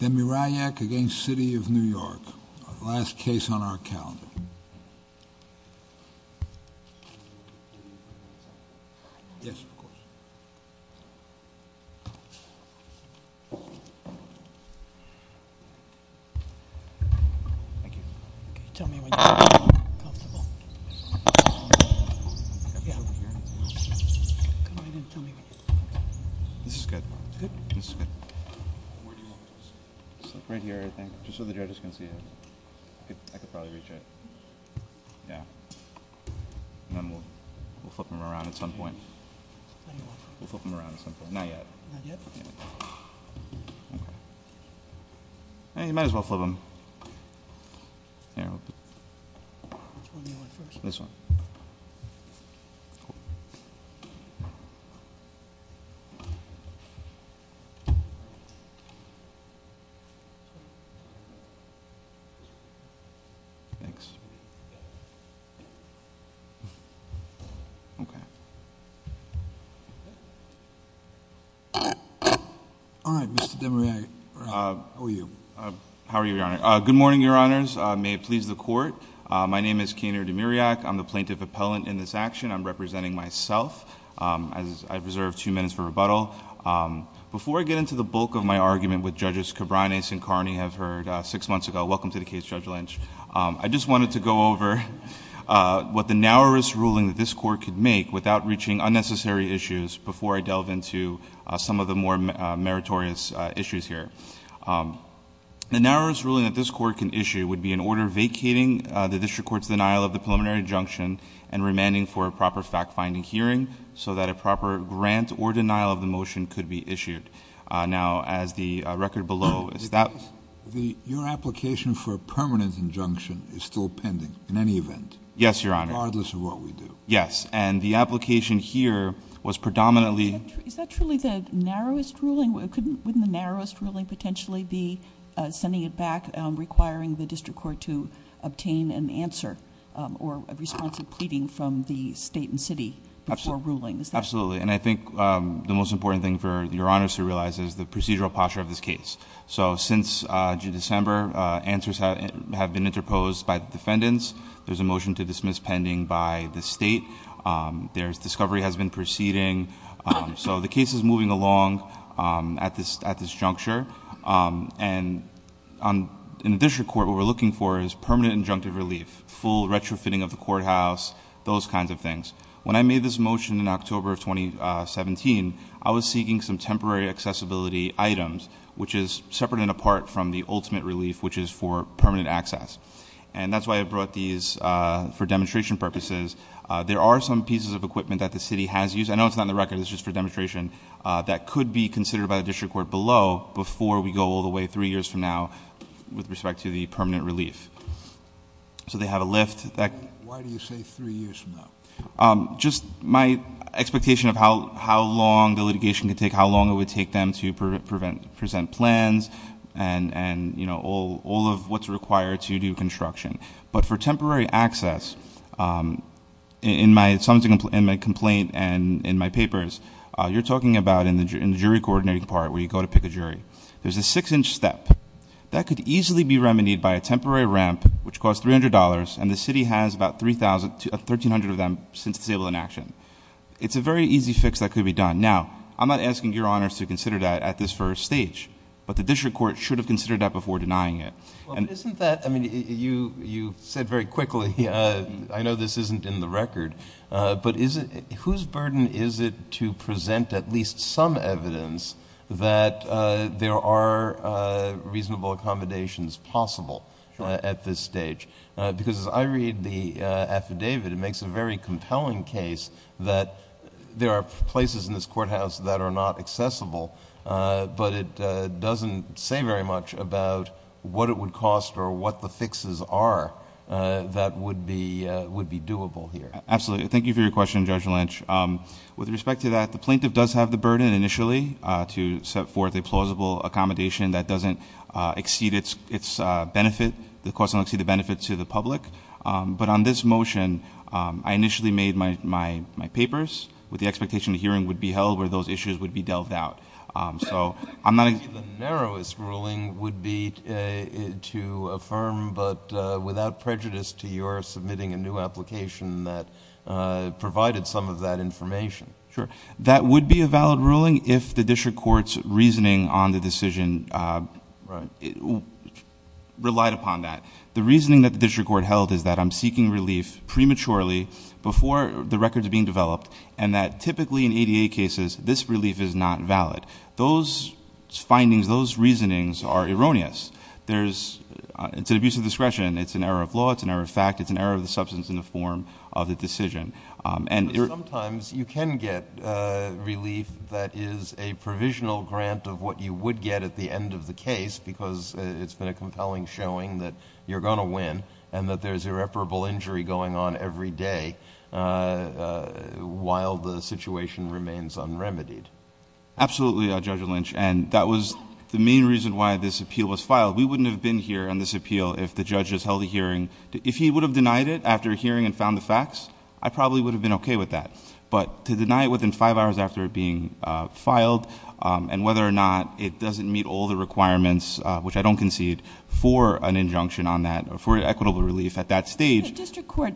Demirayak v. City of New York Last case on our calendar Right here, I think. Just so the judges can see it. I could probably reach it. Yeah. And then we'll flip them around at some point. We'll flip them around at some point. Not yet. You might as well flip them. Which one do you want first? This one. Okay. Thanks. Okay. All right, Mr. Demirayak. How are you? How are you, Your Honor? Good morning, Your Honors. May it please the Court. My name is Keener Demirayak. I'm the Plaintiff Appellant in this action. I'm representing myself. I reserve two minutes for rebuttal. Before I get into the bulk of my argument with Judges Cabranes and Carney, I've heard six months ago. Welcome to the case, Judge Lynch. I just wanted to go over what the narrowest ruling that this Court could make without reaching unnecessary issues before I delve into some of the more meritorious issues here. The narrowest ruling that this Court can issue would be an order vacating the District Court's denial of the preliminary injunction and remanding for a proper fact-finding hearing so that a proper grant or denial of the motion could be issued. Now, as the record below, is that... Your application for a permanent injunction is still pending in any event. Yes, Your Honor. Regardless of what we do. Yes. And the application here was predominantly... Is that truly the narrowest ruling? Couldn't the narrowest ruling potentially be sending it back, requiring the District Court to obtain an answer or a response of pleading from the state and city before ruling? Absolutely. And I think the most important thing for Your Honors to realize is the procedural posture of this case. So, since December, answers have been interposed by the defendants. There's a motion to dismiss pending by the state. There's discovery has been proceeding. So, the case is moving along at this juncture. And in the District Court, what we're looking for is permanent injunctive relief, full retrofitting of the courthouse, those kinds of things. When I made this motion in October of 2017, I was seeking some temporary accessibility items, which is separate and apart from the ultimate relief, which is for permanent access. And that's why I brought these for demonstration purposes. There are some pieces of equipment that the city has used. I know it's not in the record. It's just for demonstration. That could be considered by the District Court below before we go all the way three years from now with respect to the permanent relief. So, they have a lift that- Why do you say three years from now? Just my expectation of how long the litigation could take, how long it would take them to present plans and all of what's required to do construction. But for temporary access, in my complaint and in my papers, you're talking about in the jury coordinating part where you go to pick a jury. There's a six inch step. That could easily be remedied by a temporary ramp, which costs $300, and the city has about 1,300 of them since disabled in action. It's a very easy fix that could be done. Now, I'm not asking your honors to consider that at this first stage. But the District Court should have considered that before denying it. Isn't that- I mean, you said very quickly, I know this isn't in the record, but whose burden is it to present at least some evidence that there are reasonable accommodations possible at this stage? Because as I read the affidavit, it makes a very compelling case that there are places in this courthouse that are not accessible, but it doesn't say very much about what it would cost or what the fixes are that would be doable here. Absolutely. Thank you for your question, Judge Lynch. With respect to that, the plaintiff does have the burden initially to set forth a plausible accommodation that doesn't exceed its benefit. The cost doesn't exceed the benefit to the public. But on this motion, I initially made my papers with the expectation a hearing would be held where those issues would be dealt out. So I'm not- The narrowest ruling would be to affirm but without prejudice to your submitting a new application that provided some of that information. Sure. That would be a valid ruling if the District Court's reasoning on the decision relied upon that. The reasoning that the District Court held is that I'm seeking relief prematurely before the record's being developed, and that typically in ADA cases, this relief is not valid. Those findings, those reasonings are erroneous. It's an abuse of discretion. It's an error of law. It's an error of fact. It's an error of the substance in the form of the decision. Sometimes you can get relief that is a provisional grant of what you would get at the end of the case because it's been a compelling showing that you're going to win and that there's irreparable injury going on every day while the situation remains unremitied. Absolutely, Judge Lynch, and that was the main reason why this appeal was filed. We wouldn't have been here on this appeal if the judge has held a hearing. If he would have denied it after hearing and found the facts, I probably would have been okay with that. But to deny it within five hours after it being filed and whether or not it doesn't meet all the requirements, which I don't concede, for an injunction on that or for equitable relief at that stage- The District Court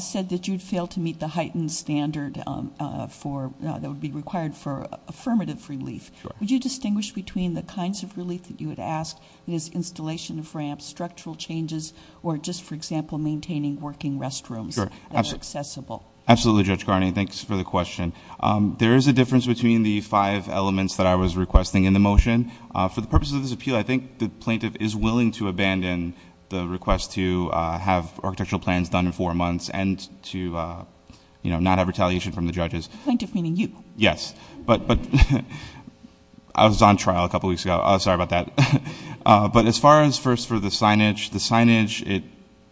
said that you'd fail to meet the heightened standard that would be required for affirmative relief. Would you distinguish between the kinds of relief that you would ask, that is installation of ramps, structural changes, or just, for example, maintaining working restrooms that are accessible? Absolutely, Judge Garney. Thanks for the question. There is a difference between the five elements that I was requesting in the motion. For the purposes of this appeal, I think the plaintiff is willing to abandon the request to have architectural plans done in four months and to not have retaliation from the judges. Plaintiff meaning you. Yes. I was on trial a couple weeks ago. Sorry about that. But as far as first for the signage, the signage,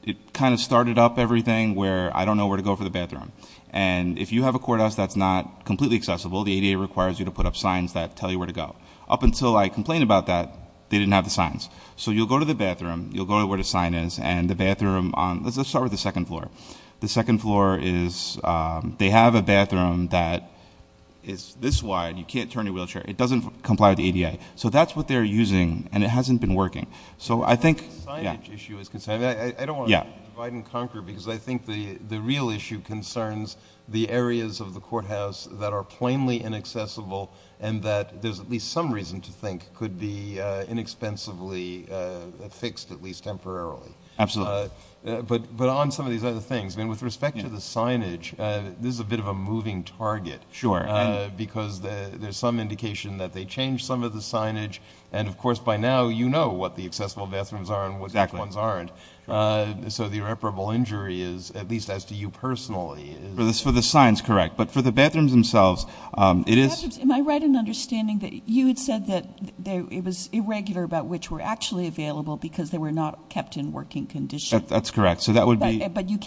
it kind of started up everything where I don't know where to go for the bathroom. And if you have a courthouse that's not completely accessible, the ADA requires you to put up signs that tell you where to go. Up until I complained about that, they didn't have the signs. So you'll go to the bathroom, you'll go to where the sign is, and the bathroom on- Let's start with the second floor. The second floor is- they have a bathroom that is this wide. You can't turn your wheelchair. It doesn't comply with the ADA. So that's what they're using, and it hasn't been working. So I think- As far as the signage issue is concerned, I don't want to divide and conquer because I think the real issue concerns the areas of the courthouse that are plainly inaccessible and that there's at least some reason to think could be inexpensively fixed, at least temporarily. Absolutely. But on some of these other things, with respect to the signage, this is a bit of a moving target. Sure. Because there's some indication that they changed some of the signage, and of course by now you know what the accessible bathrooms are and which ones aren't. So the irreparable injury is, at least as to you personally- For the signs, correct. But for the bathrooms themselves, it is- Am I right in understanding that you had said that it was irregular about which were actually available because they were not kept in working condition? That's correct. So that would be-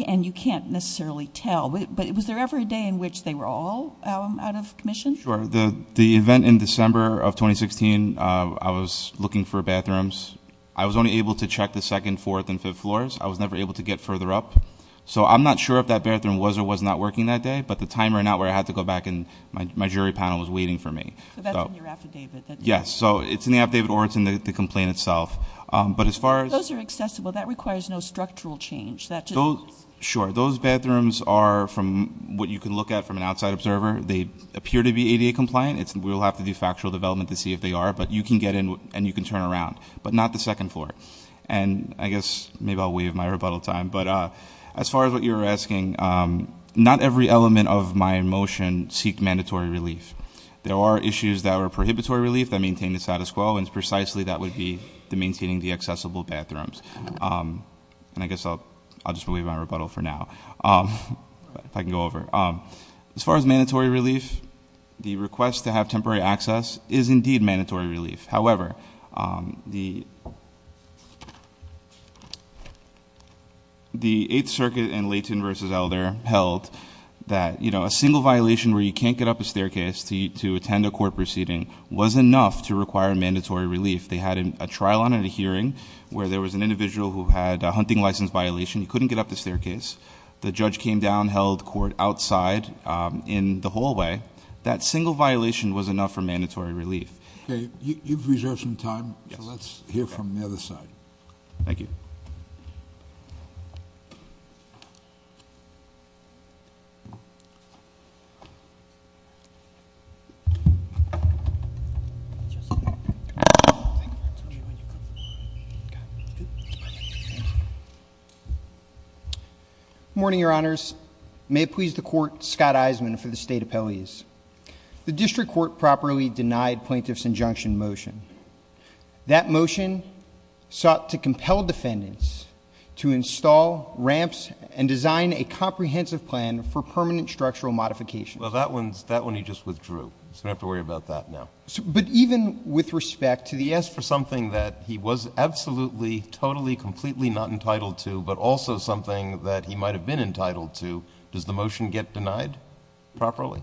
And you can't necessarily tell, but was there ever a day in which they were all out of commission? Sure. The event in December of 2016, I was looking for bathrooms. I was only able to check the second, fourth, and fifth floors. I was never able to get further up. So I'm not sure if that bathroom was or was not working that day, but the timer went out where I had to go back and my jury panel was waiting for me. So that's in your affidavit. Yes. So it's in the affidavit or it's in the complaint itself. But as far as- Those are accessible. Well, that requires no structural change. That just- Sure. Those bathrooms are from what you can look at from an outside observer. They appear to be ADA compliant. We'll have to do factual development to see if they are. But you can get in and you can turn around. But not the second floor. And I guess maybe I'll waive my rebuttal time. But as far as what you're asking, not every element of my motion seek mandatory relief. There are issues that are prohibitory relief that maintain the status quo. And precisely that would be the maintaining the accessible bathrooms. And I guess I'll just waive my rebuttal for now. If I can go over. As far as mandatory relief, the request to have temporary access is indeed mandatory relief. However, the Eighth Circuit in Layton v. Elder held that a single violation where you can't get up a staircase to attend a court proceeding was enough to require mandatory relief. They had a trial on a hearing where there was an individual who had a hunting license violation. He couldn't get up the staircase. The judge came down, held court outside in the hallway. That single violation was enough for mandatory relief. Okay. You've reserved some time. So let's hear from the other side. Thank you. Good morning, Your Honors. May it please the Court, Scott Eisenman for the State Appellees. The district court properly denied plaintiff's injunction motion. That motion sought to compel defendants to install ramps and design a comprehensive plan for permanent structural modification. Well, that one he just withdrew. So we don't have to worry about that now. But even with respect to the — He asked for something that he was absolutely, totally, completely not entitled to, but also something that he might have been entitled to. Does the motion get denied properly?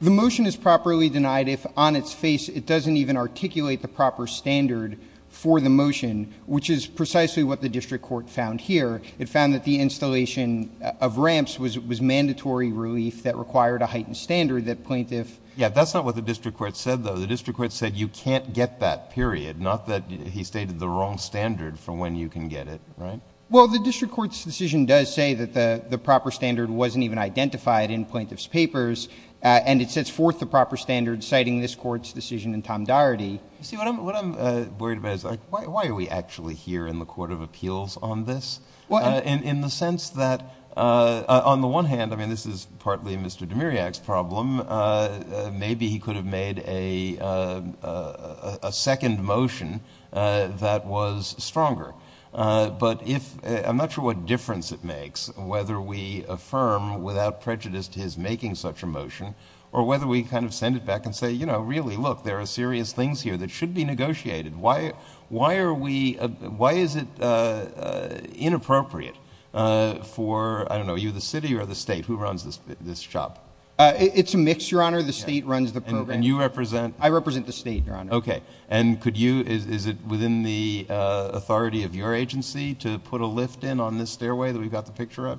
The motion is properly denied if on its face it doesn't even articulate the proper standard for the motion, which is precisely what the district court found here. It found that the installation of ramps was mandatory relief that required a heightened standard that plaintiff — Yeah, that's not what the district court said, though. The district court said you can't get that, period, not that he stated the wrong standard for when you can get it, right? Well, the district court's decision does say that the proper standard wasn't even identified in plaintiff's papers, and it sets forth the proper standard citing this court's decision in Tom Doherty. You see, what I'm worried about is, like, why are we actually here in the court of appeals on this? In the sense that, on the one hand, I mean, this is partly Mr. Demiriak's problem. Maybe he could have made a second motion that was stronger. But if — I'm not sure what difference it makes whether we affirm without prejudice to his making such a motion or whether we kind of send it back and say, you know, really, look, there are serious things here that should be negotiated. Why are we — why is it inappropriate for — I don't know, are you the city or the state? Who runs this shop? It's a mix, Your Honor. The state runs the program. I represent the state, Your Honor. Okay. And could you — is it within the authority of your agency to put a lift in on this stairway that we've got the picture of?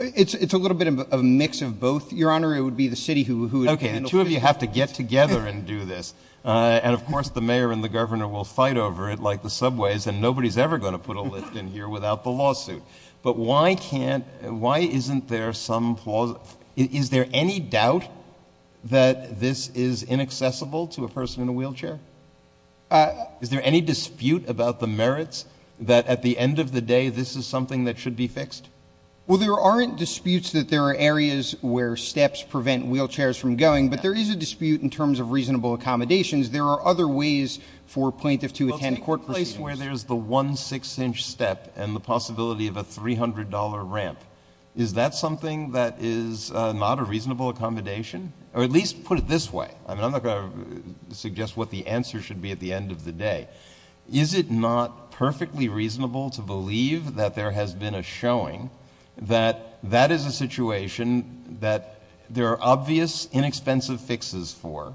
It's a little bit of a mix of both, Your Honor. It would be the city who would — Okay. The two of you have to get together and do this. And, of course, the mayor and the governor will fight over it like the subways, and nobody's ever going to put a lift in here without the lawsuit. But why can't — why isn't there some — is there any doubt that this is inaccessible to a person in a wheelchair? Is there any dispute about the merits that at the end of the day this is something that should be fixed? Well, there aren't disputes that there are areas where steps prevent wheelchairs from going, but there is a dispute in terms of reasonable accommodations. There are other ways for plaintiffs to attend court proceedings. But that's where there's the one six-inch step and the possibility of a $300 ramp. Is that something that is not a reasonable accommodation? Or at least put it this way — I mean, I'm not going to suggest what the answer should be at the end of the day. Is it not perfectly reasonable to believe that there has been a showing that that is a situation that there are obvious, inexpensive fixes for?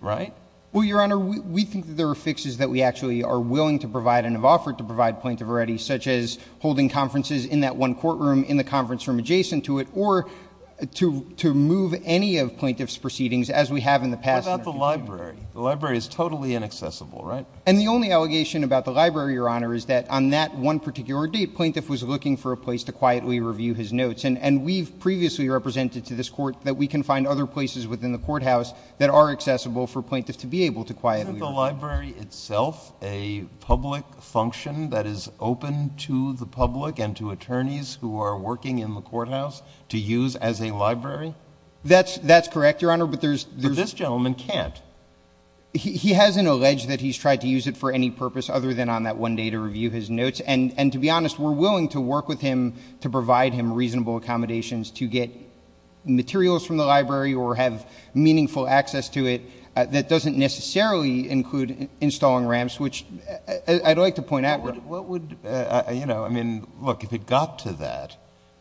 Right? Well, Your Honor, we think that there are fixes that we actually are willing to provide and have offered to provide plaintiff already, such as holding conferences in that one courtroom in the conference room adjacent to it, or to move any of plaintiff's proceedings as we have in the past. What about the library? The library is totally inaccessible, right? And the only allegation about the library, Your Honor, is that on that one particular date, plaintiff was looking for a place to quietly review his notes. And we've previously represented to this Court that we can find other places within the courthouse that are accessible for plaintiff to be able to quietly review. Isn't the library itself a public function that is open to the public and to attorneys who are working in the courthouse to use as a library? That's correct, Your Honor, but there's — But this gentleman can't. He hasn't alleged that he's tried to use it for any purpose other than on that one day to review his notes. And to be honest, we're willing to work with him to provide him reasonable accommodations to get materials from the library or have meaningful access to it that doesn't necessarily include installing ramps, which I'd like to point out. What would — you know, I mean, look, if it got to that,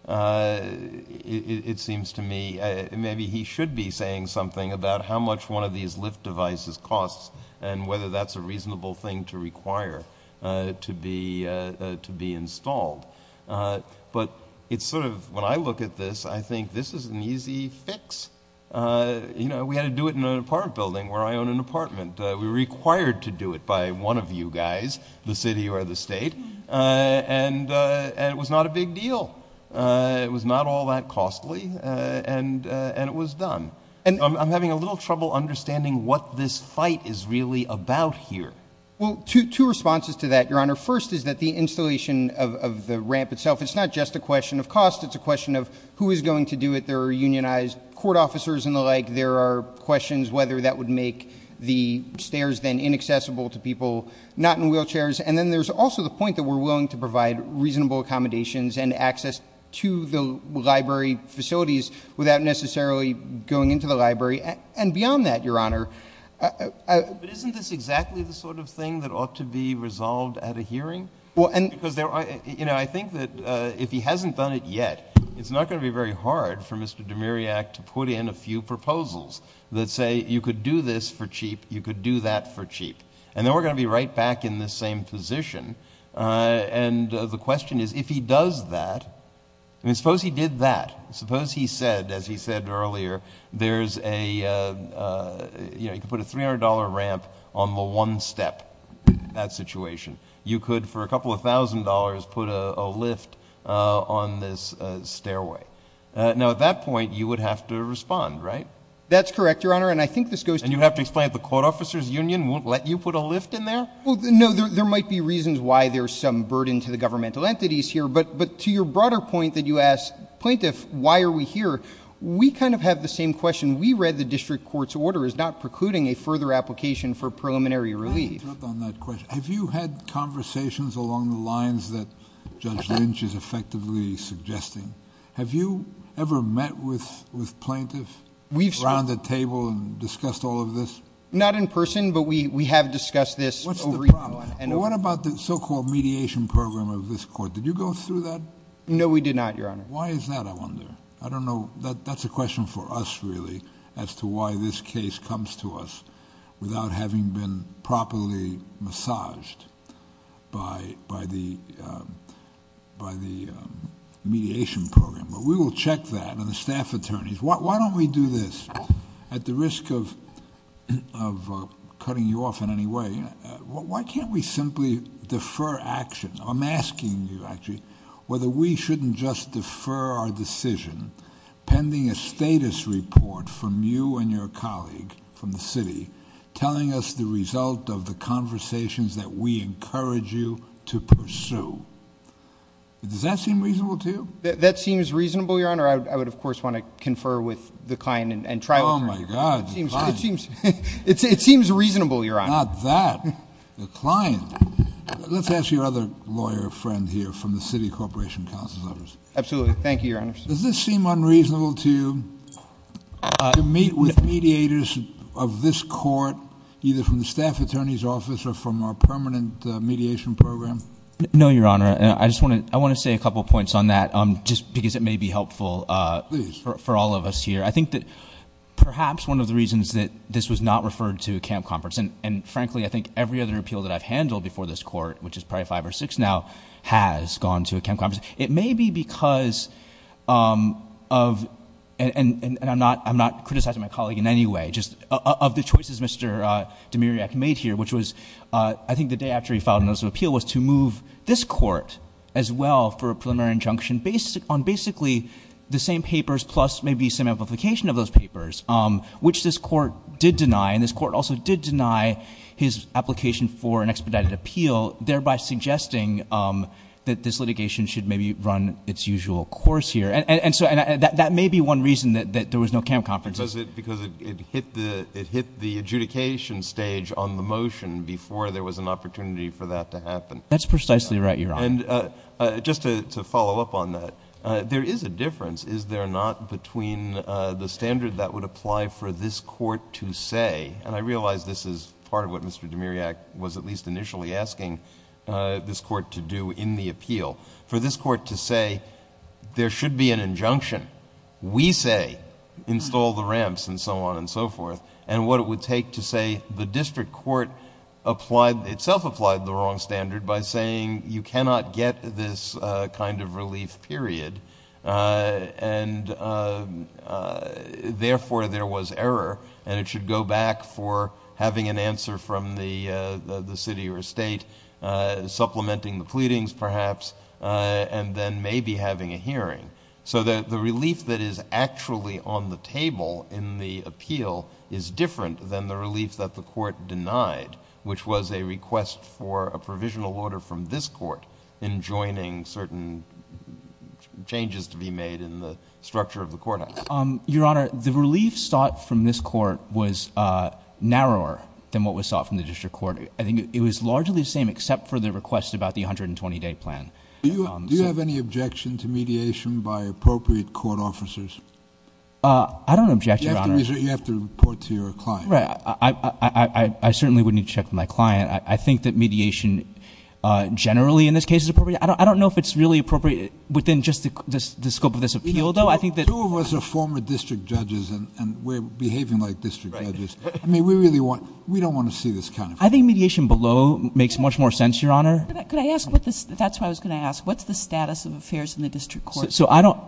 it seems to me maybe he should be saying something about how much one of these lift devices costs and whether that's a reasonable thing to require to be installed. But it's sort of — when I look at this, I think this is an easy fix. You know, we had to do it in an apartment building where I own an apartment. We were required to do it by one of you guys, the city or the state, and it was not a big deal. It was not all that costly, and it was done. I'm having a little trouble understanding what this fight is really about here. Well, two responses to that, Your Honor. First is that the installation of the ramp itself, it's not just a question of cost. It's a question of who is going to do it. There are unionized court officers and the like. There are questions whether that would make the stairs then inaccessible to people not in wheelchairs. And then there's also the point that we're willing to provide reasonable accommodations and access to the library facilities without necessarily going into the library. And beyond that, Your Honor — But isn't this exactly the sort of thing that ought to be resolved at a hearing? Because, you know, I think that if he hasn't done it yet, it's not going to be very hard for Mr. Demiriak to put in a few proposals that say you could do this for cheap, you could do that for cheap, and then we're going to be right back in this same position. And the question is, if he does that, I mean, suppose he did that. Suppose he said, as he said earlier, there's a — you know, you could put a $300 ramp on the one step in that situation. You could, for a couple of thousand dollars, put a lift on this stairway. Now, at that point, you would have to respond, right? That's correct, Your Honor, and I think this goes to — And you'd have to explain that the Court Officers Union won't let you put a lift in there? Well, no, there might be reasons why there's some burden to the governmental entities here, but to your broader point that you asked, plaintiff, why are we here? We kind of have the same question. We read the district court's order as not precluding a further application for preliminary relief. Let me jump on that question. Have you had conversations along the lines that Judge Lynch is effectively suggesting? Have you ever met with plaintiff, around the table, and discussed all of this? Not in person, but we have discussed this. What's the problem? What about the so-called mediation program of this court? Did you go through that? No, we did not, Your Honor. Why is that, I wonder? I don't know. That's a question for us, really, as to why this case comes to us without having been properly massaged by the mediation program. But we will check that, and the staff attorneys. Why don't we do this? At the risk of cutting you off in any way, why can't we simply defer action? I'm asking you, actually, whether we shouldn't just defer our decision pending a status report from you and your colleague from the city, telling us the result of the conversations that we encourage you to pursue. Does that seem reasonable to you? That seems reasonable, Your Honor. I would, of course, want to confer with the client and try with her. Oh, my God. It seems reasonable, Your Honor. Not that. The client. Let's ask your other lawyer friend here from the city corporation counsel's office. Absolutely. Thank you, Your Honor. Does this seem unreasonable to you, to meet with mediators of this court, either from the staff attorney's office or from our permanent mediation program? No, Your Honor. I just want to say a couple of points on that, just because it may be helpful for all of us here. I think that perhaps one of the reasons that this was not referred to a camp conference, and frankly I think every other appeal that I've handled before this court, which is probably five or six now, has gone to a camp conference. It may be because of, and I'm not criticizing my colleague in any way, of the choices Mr. Demiriak made here, which was I think the day after he filed a notice of appeal was to move this court as well for a preliminary injunction on basically the same papers plus maybe some amplification of those papers, which this court did deny, and this court also did deny his application for an expedited appeal, thereby suggesting that this litigation should maybe run its usual course here. And so that may be one reason that there was no camp conference. Because it hit the adjudication stage on the motion before there was an opportunity for that to happen. That's precisely right, Your Honor. And just to follow up on that, there is a difference, is there not, between the standard that would apply for this court to say, and I realize this is part of what Mr. Demiriak was at least initially asking this court to do in the appeal, for this court to say, there should be an injunction. We say install the ramps and so on and so forth. And what it would take to say the district court applied, itself applied the wrong standard by saying, you cannot get this kind of relief, period. And therefore there was error, and it should go back for having an answer from the city or state, supplementing the pleadings perhaps, and then maybe having a hearing. So the relief that is actually on the table in the appeal is different than the relief that the court denied, which was a request for a provisional order from this court in joining certain changes to be made in the structure of the court act. Your Honor, the relief sought from this court was narrower than what was sought from the district court. I think it was largely the same except for the request about the 120-day plan. Do you have any objection to mediation by appropriate court officers? I don't object, Your Honor. You have to report to your client. Right. I certainly would need to check with my client. I think that mediation generally in this case is appropriate. I don't know if it's really appropriate within just the scope of this appeal, though. Two of us are former district judges, and we're behaving like district judges. I mean, we don't want to see this kind of thing. I think mediation below makes much more sense, Your Honor. That's what I was going to ask. What's the status of affairs in the district court?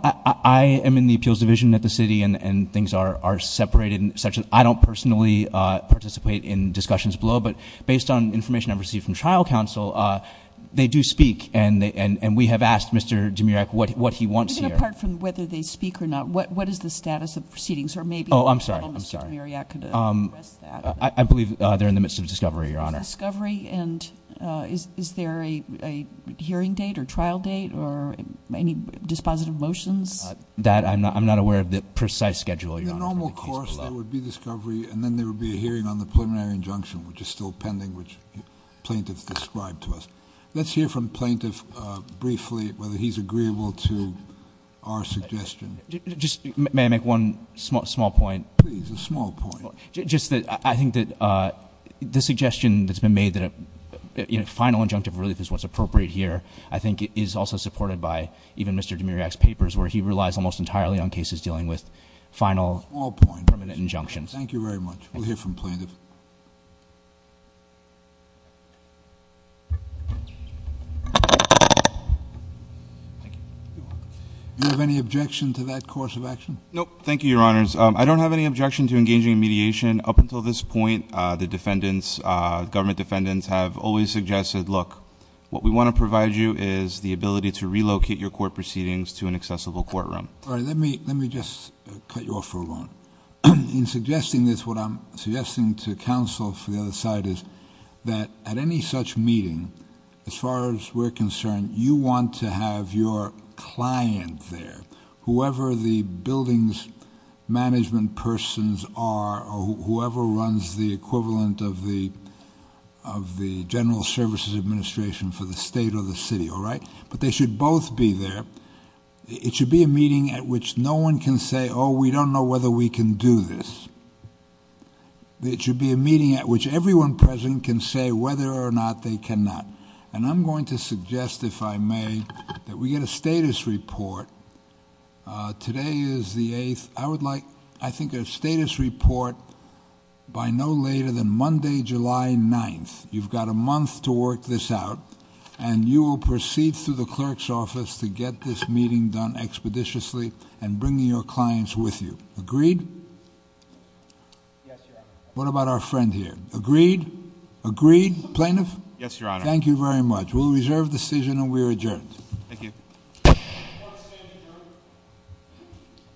I am in the appeals division at the city, and things are separated. I don't personally participate in discussions below, but based on information I've received from trial counsel, they do speak, and we have asked Mr. Dimirak what he wants here. Even apart from whether they speak or not, what is the status of proceedings? Or maybe- I'm sorry. I don't know if Mr. Dimirak could address that. I believe they're in the midst of discovery, Your Honor. Discovery? And is there a hearing date or trial date or any dispositive motions? That I'm not aware of the precise schedule, Your Honor. In the normal course, there would be discovery, and then there would be a hearing on the preliminary injunction, which is still pending, which plaintiffs described to us. Let's hear from plaintiff briefly whether he's agreeable to our suggestion. May I make one small point? Please, a small point. I think that the suggestion that's been made that a final injunctive relief is what's appropriate here, I think is also supported by even Mr. Dimirak's papers, where he relies almost entirely on cases dealing with final permanent injunctions. Thank you very much. We'll hear from plaintiff. Thank you. Do you have any objection to that course of action? No, thank you, Your Honors. I don't have any objection to engaging in mediation. Up until this point, the defendants, government defendants, have always suggested, look, what we want to provide you is the ability to relocate your court proceedings to an accessible courtroom. All right. Let me just cut you off for a moment. In suggesting this, what I'm suggesting to counsel for the other side is that at any such meeting, as far as we're concerned, you want to have your client there, whoever the buildings management persons are, or whoever runs the equivalent of the general services administration for the state or the city, all right? But they should both be there. It should be a meeting at which no one can say, oh, we don't know whether we can do this. It should be a meeting at which everyone present can say whether or not they cannot. And I'm going to suggest, if I may, that we get a status report. Today is the eighth, I would like, I think, a status report by no later than Monday, July 9th. You've got a month to work this out. And you will proceed through the clerk's office to get this meeting done expeditiously and bring your clients with you. Agreed? Yes, Your Honor. What about our friend here? Agreed? Agreed? Plaintiff? Yes, Your Honor. Thank you very much. We'll reserve decision and we are adjourned. Thank you. Court is adjourned.